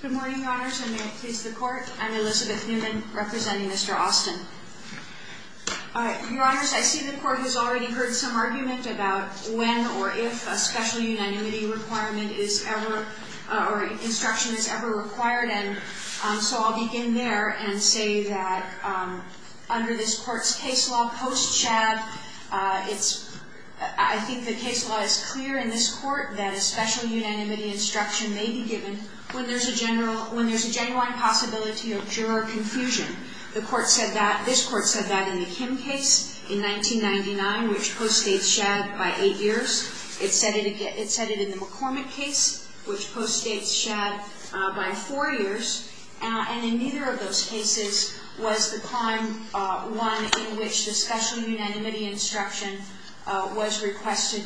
Good morning, Your Honors, and may it please the Court. I'm Elizabeth Newman, representing Mr. Austin. Your Honors, I see the Court has already heard some argument about when or if a special unanimity instruction is ever required, and so I'll begin there and say that under this Court's case law post-Chad, I think the case law is clear in this Court that a special unanimity instruction may be given when there's a genuine possibility of juror confusion. This Court said that in the Kim case in 1999, which post-States Shad by eight years. It said it in the McCormick case, which post-States Shad by four years. And in neither of those cases was the prime one in which the special unanimity instruction was requested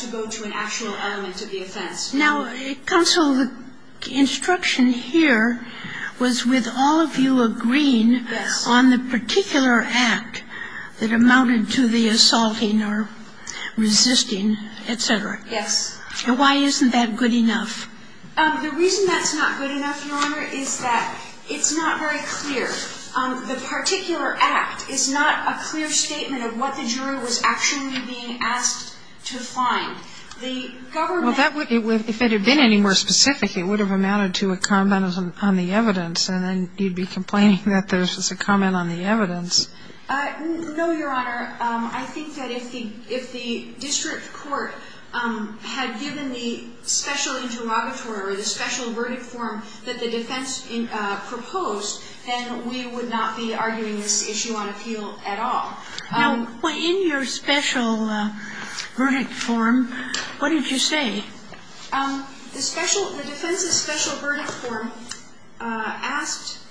to go to an actual element of the offense. Now, counsel, the instruction here was with all of you agreeing on the particular act that amounted to the assaulting or resisting, et cetera. Yes. And why isn't that good enough? The reason that's not good enough, Your Honor, is that it's not very clear. The particular act is not a clear statement of what the juror was actually being asked to find. The government — Well, if it had been any more specific, it would have amounted to a comment on the evidence, and then you'd be complaining that there's a comment on the evidence. No, Your Honor. I think that if the district court had given the special interrogatory or the special verdict form that the defense proposed, then we would not be arguing this issue on appeal at all. Now, in your special verdict form, what did you say? The special — the defense's special verdict form asked —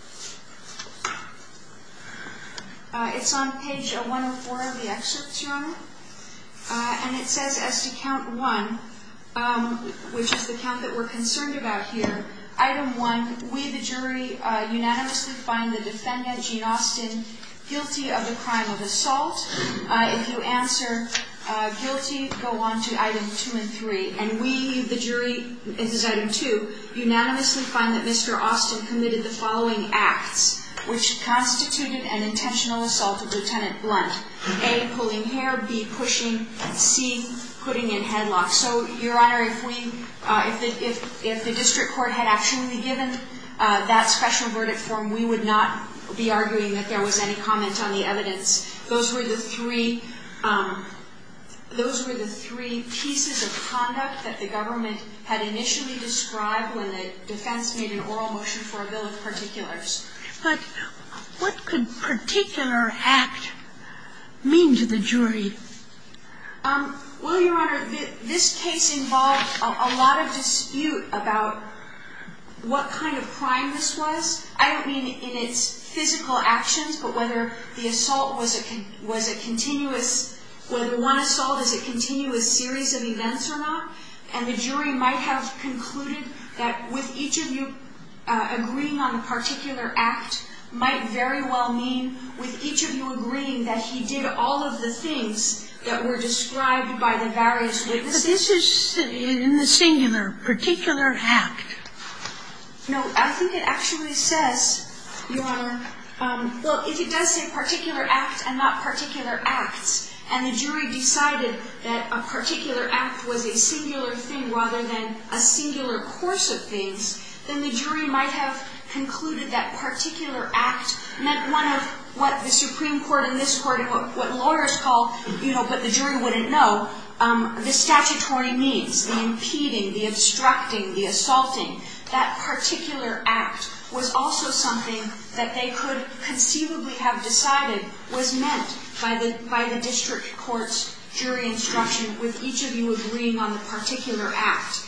it's on page 104 of the excerpts, Your Honor, and it says as to count one, which is the count that we're concerned about here, item one, we, the jury, unanimously find the defendant, Gene Austin, guilty of the crime of assault. If you answer guilty, go on to item two and three. And we, the jury, this is item two, unanimously find that Mr. Austin committed the following acts, which constituted an intentional assault of Lieutenant Blunt. A, pulling hair, B, pushing, C, putting in headlock. So, Your Honor, if we — if the district court had actually given that special verdict form, we would not be arguing that there was any comment on the evidence. Those were the three — those were the three pieces of conduct that the government had initially described when the defense made an oral motion for a bill of particulars. But what could particular act mean to the jury? Well, Your Honor, this case involved a lot of dispute about what kind of crime this was. I don't mean in its physical actions, but whether the assault was a continuous — whether one assault is a continuous series of events or not. And the jury might have concluded that with each of you agreeing on the particular act might very well mean with each of you agreeing that he did all of the things that were described by the various witnesses. But this is in the singular, particular act. No, I think it actually says, Your Honor — well, if it does say particular act and not particular acts, and the jury decided that a particular act was a singular thing rather than a singular course of things, then the jury might have concluded that particular act meant one of what the Supreme Court and this Court and what lawyers call, you know, but the jury wouldn't know, the statutory means, the impeding, the obstructing, the assaulting. That particular act was also something that they could conceivably have decided was meant by the district court's jury instruction with each of you agreeing on the particular act.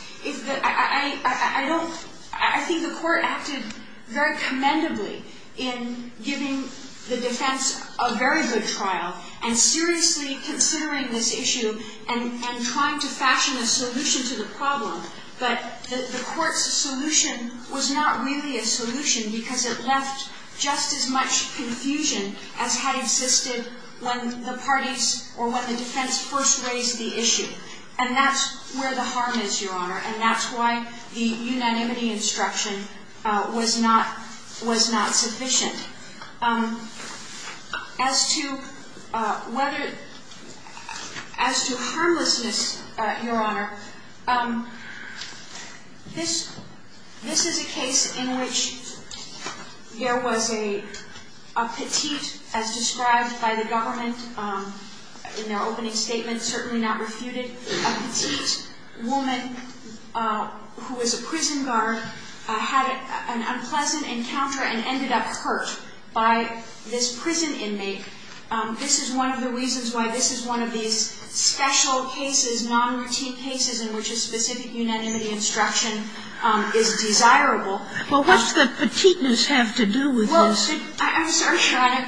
I think the Court acted very commendably in giving the defense a very good trial and seriously considering this issue and trying to fashion a solution to the problem. But the Court's solution was not really a solution because it left just as much confusion as had existed when the parties or when the defense first raised the issue. And that's where the harm is, Your Honor, and that's why the unanimity instruction was not sufficient. As to whether, as to harmlessness, Your Honor, this is a case in which there was a petite, as described by the government in their opening statement, certainly not refuted, a petite woman who was a prison guard, had an unpleasant encounter and ended up hurt by this prison inmate. This is one of the reasons why this is one of these special cases, nonroutine cases in which a specific unanimity instruction is desirable. Well, what's the petiteness have to do with this? Well, I'm sorry, Your Honor.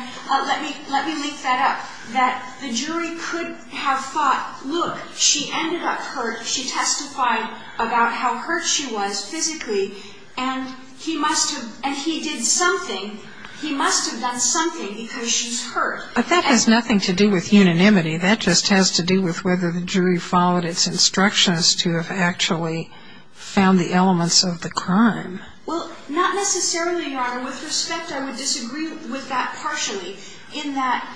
Let me link that up, that the jury could have thought, look, she ended up hurt. She testified about how hurt she was physically, and he must have, and he did something. He must have done something because she's hurt. But that has nothing to do with unanimity. That just has to do with whether the jury followed its instructions to have actually found the elements of the crime. Well, not necessarily, Your Honor. With respect, I would disagree with that partially, in that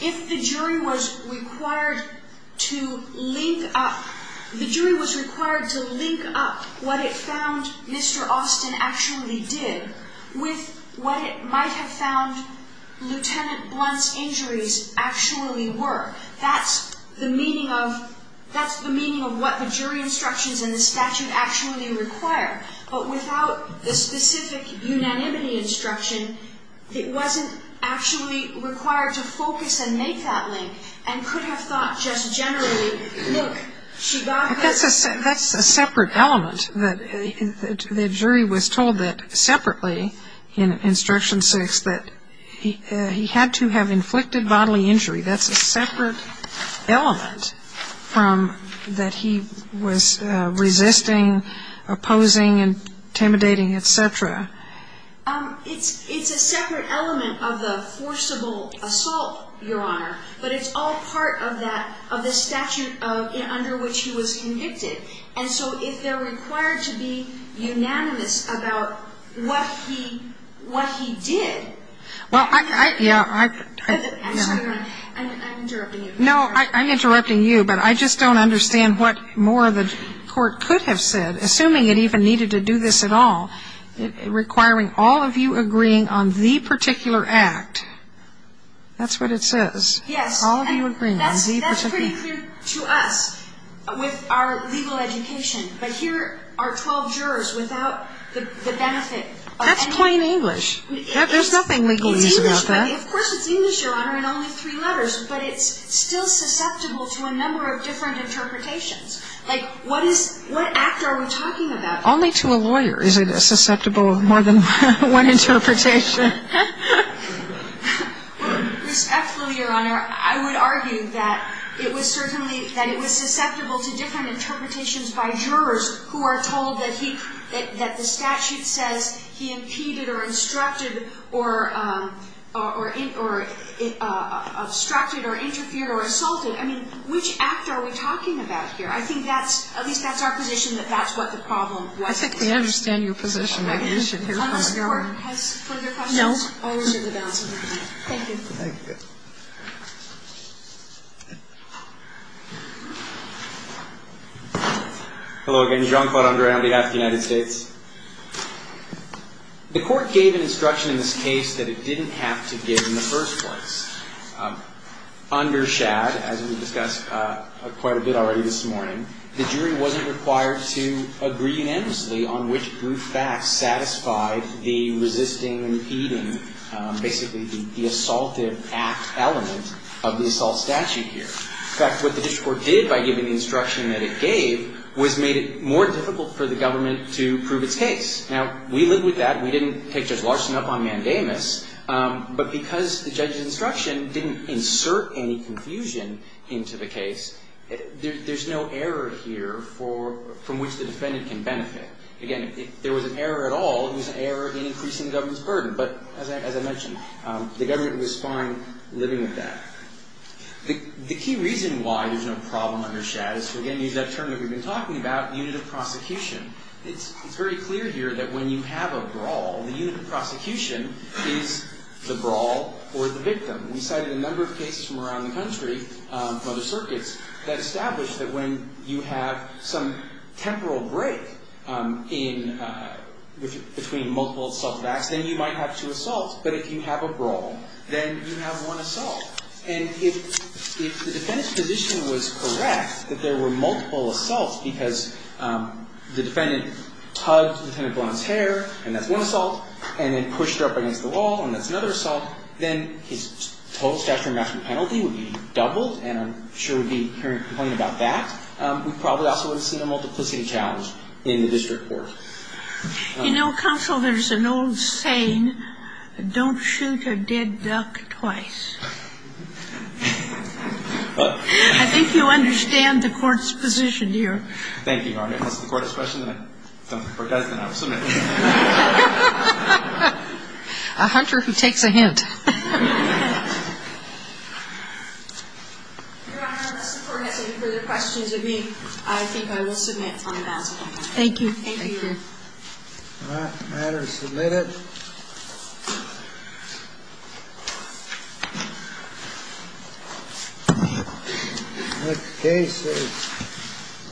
if the jury was required to link up what it found Mr. Austin actually did with what it might have found Lieutenant Blunt's injuries actually were, that's the meaning of what the jury instructions in the statute actually require. But without the specific unanimity instruction, it wasn't actually required to focus and make that link, and could have thought just generally, look, she got hurt. But that's a separate element, that the jury was told that separately in Instruction 6 that he had to have inflicted bodily injury. That's a separate element that he was resisting, opposing, intimidating, et cetera. It's a separate element of the forcible assault, Your Honor, but it's all part of the statute under which he was convicted. And so if they're required to be unanimous about what he did, I'm interrupting you. No, I'm interrupting you, but I just don't understand what more the court could have said, assuming it even needed to do this at all, requiring all of you agreeing on the particular act. That's what it says. Yes. All of you agreeing on the particular act. That's pretty clear to us with our legal education. But here are 12 jurors without the benefit of anything. That's plain English. There's nothing legal about that. It's English. Of course it's English, Your Honor, in only three letters. But it's still susceptible to a number of different interpretations. Like, what is – what act are we talking about? Only to a lawyer is it susceptible of more than one interpretation. Respectfully, Your Honor, I would argue that it was certainly – that it was susceptible to different interpretations by jurors who are told that he – that the statute says he impeded or instructed or obstructed or interfered or assaulted. I mean, which act are we talking about here? I think that's – at least that's our position that that's what the problem was. I think we understand your position. Unless the court has further questions. No. Always in the balance of your time. Thank you. Thank you. Hello again. Jean Claude Andre on behalf of the United States. The court gave an instruction in this case that it didn't have to give in the first place. Under Schad, as we discussed quite a bit already this morning, the jury wasn't required to agree unanimously on which group facts satisfied the resisting, impeding, basically the assaultive act element of the assault statute here. In fact, what the district court did by giving the instruction that it gave was made it more difficult for the government to prove its case. Now, we live with that. We didn't take Judge Larson up on mandamus. But because the judge's instruction didn't insert any confusion into the case, there's no error here for – from which the defendant can benefit. Again, if there was an error at all, it was an error in increasing the government's burden. But as I mentioned, the government was fine living with that. The key reason why there's no problem under Schad is to, again, use that term that we've been talking about, unit of prosecution. It's very clear here that when you have a brawl, the unit of prosecution is the brawl or the victim. We cited a number of cases from around the country, from other circuits, that established that when you have some temporal break in – between multiple assaultive acts, then you might have two assaults. But if you have a brawl, then you have one assault. And if the defendant's position was correct, that there were multiple assaults because the defendant hugged the defendant below his hair, and that's one assault, and then pushed her up against the wall, and that's another assault, then his total statutory maximum penalty would be doubled, and I'm sure we'd be hearing a complaint about that. We probably also would have seen a multiplicity challenge in the district court. You know, counsel, there's an old saying, don't shoot a dead duck twice. I think you understand the Court's position here. Thank you, Your Honor. Unless the Court has a question, then I'm submitting. A hunter who takes a hint. Your Honor, unless the Court has any further questions of me, I think I will submit on the balance of my time. Thank you, Your Honor. All right. The matter is submitted. The case is Vasquez v. Astor.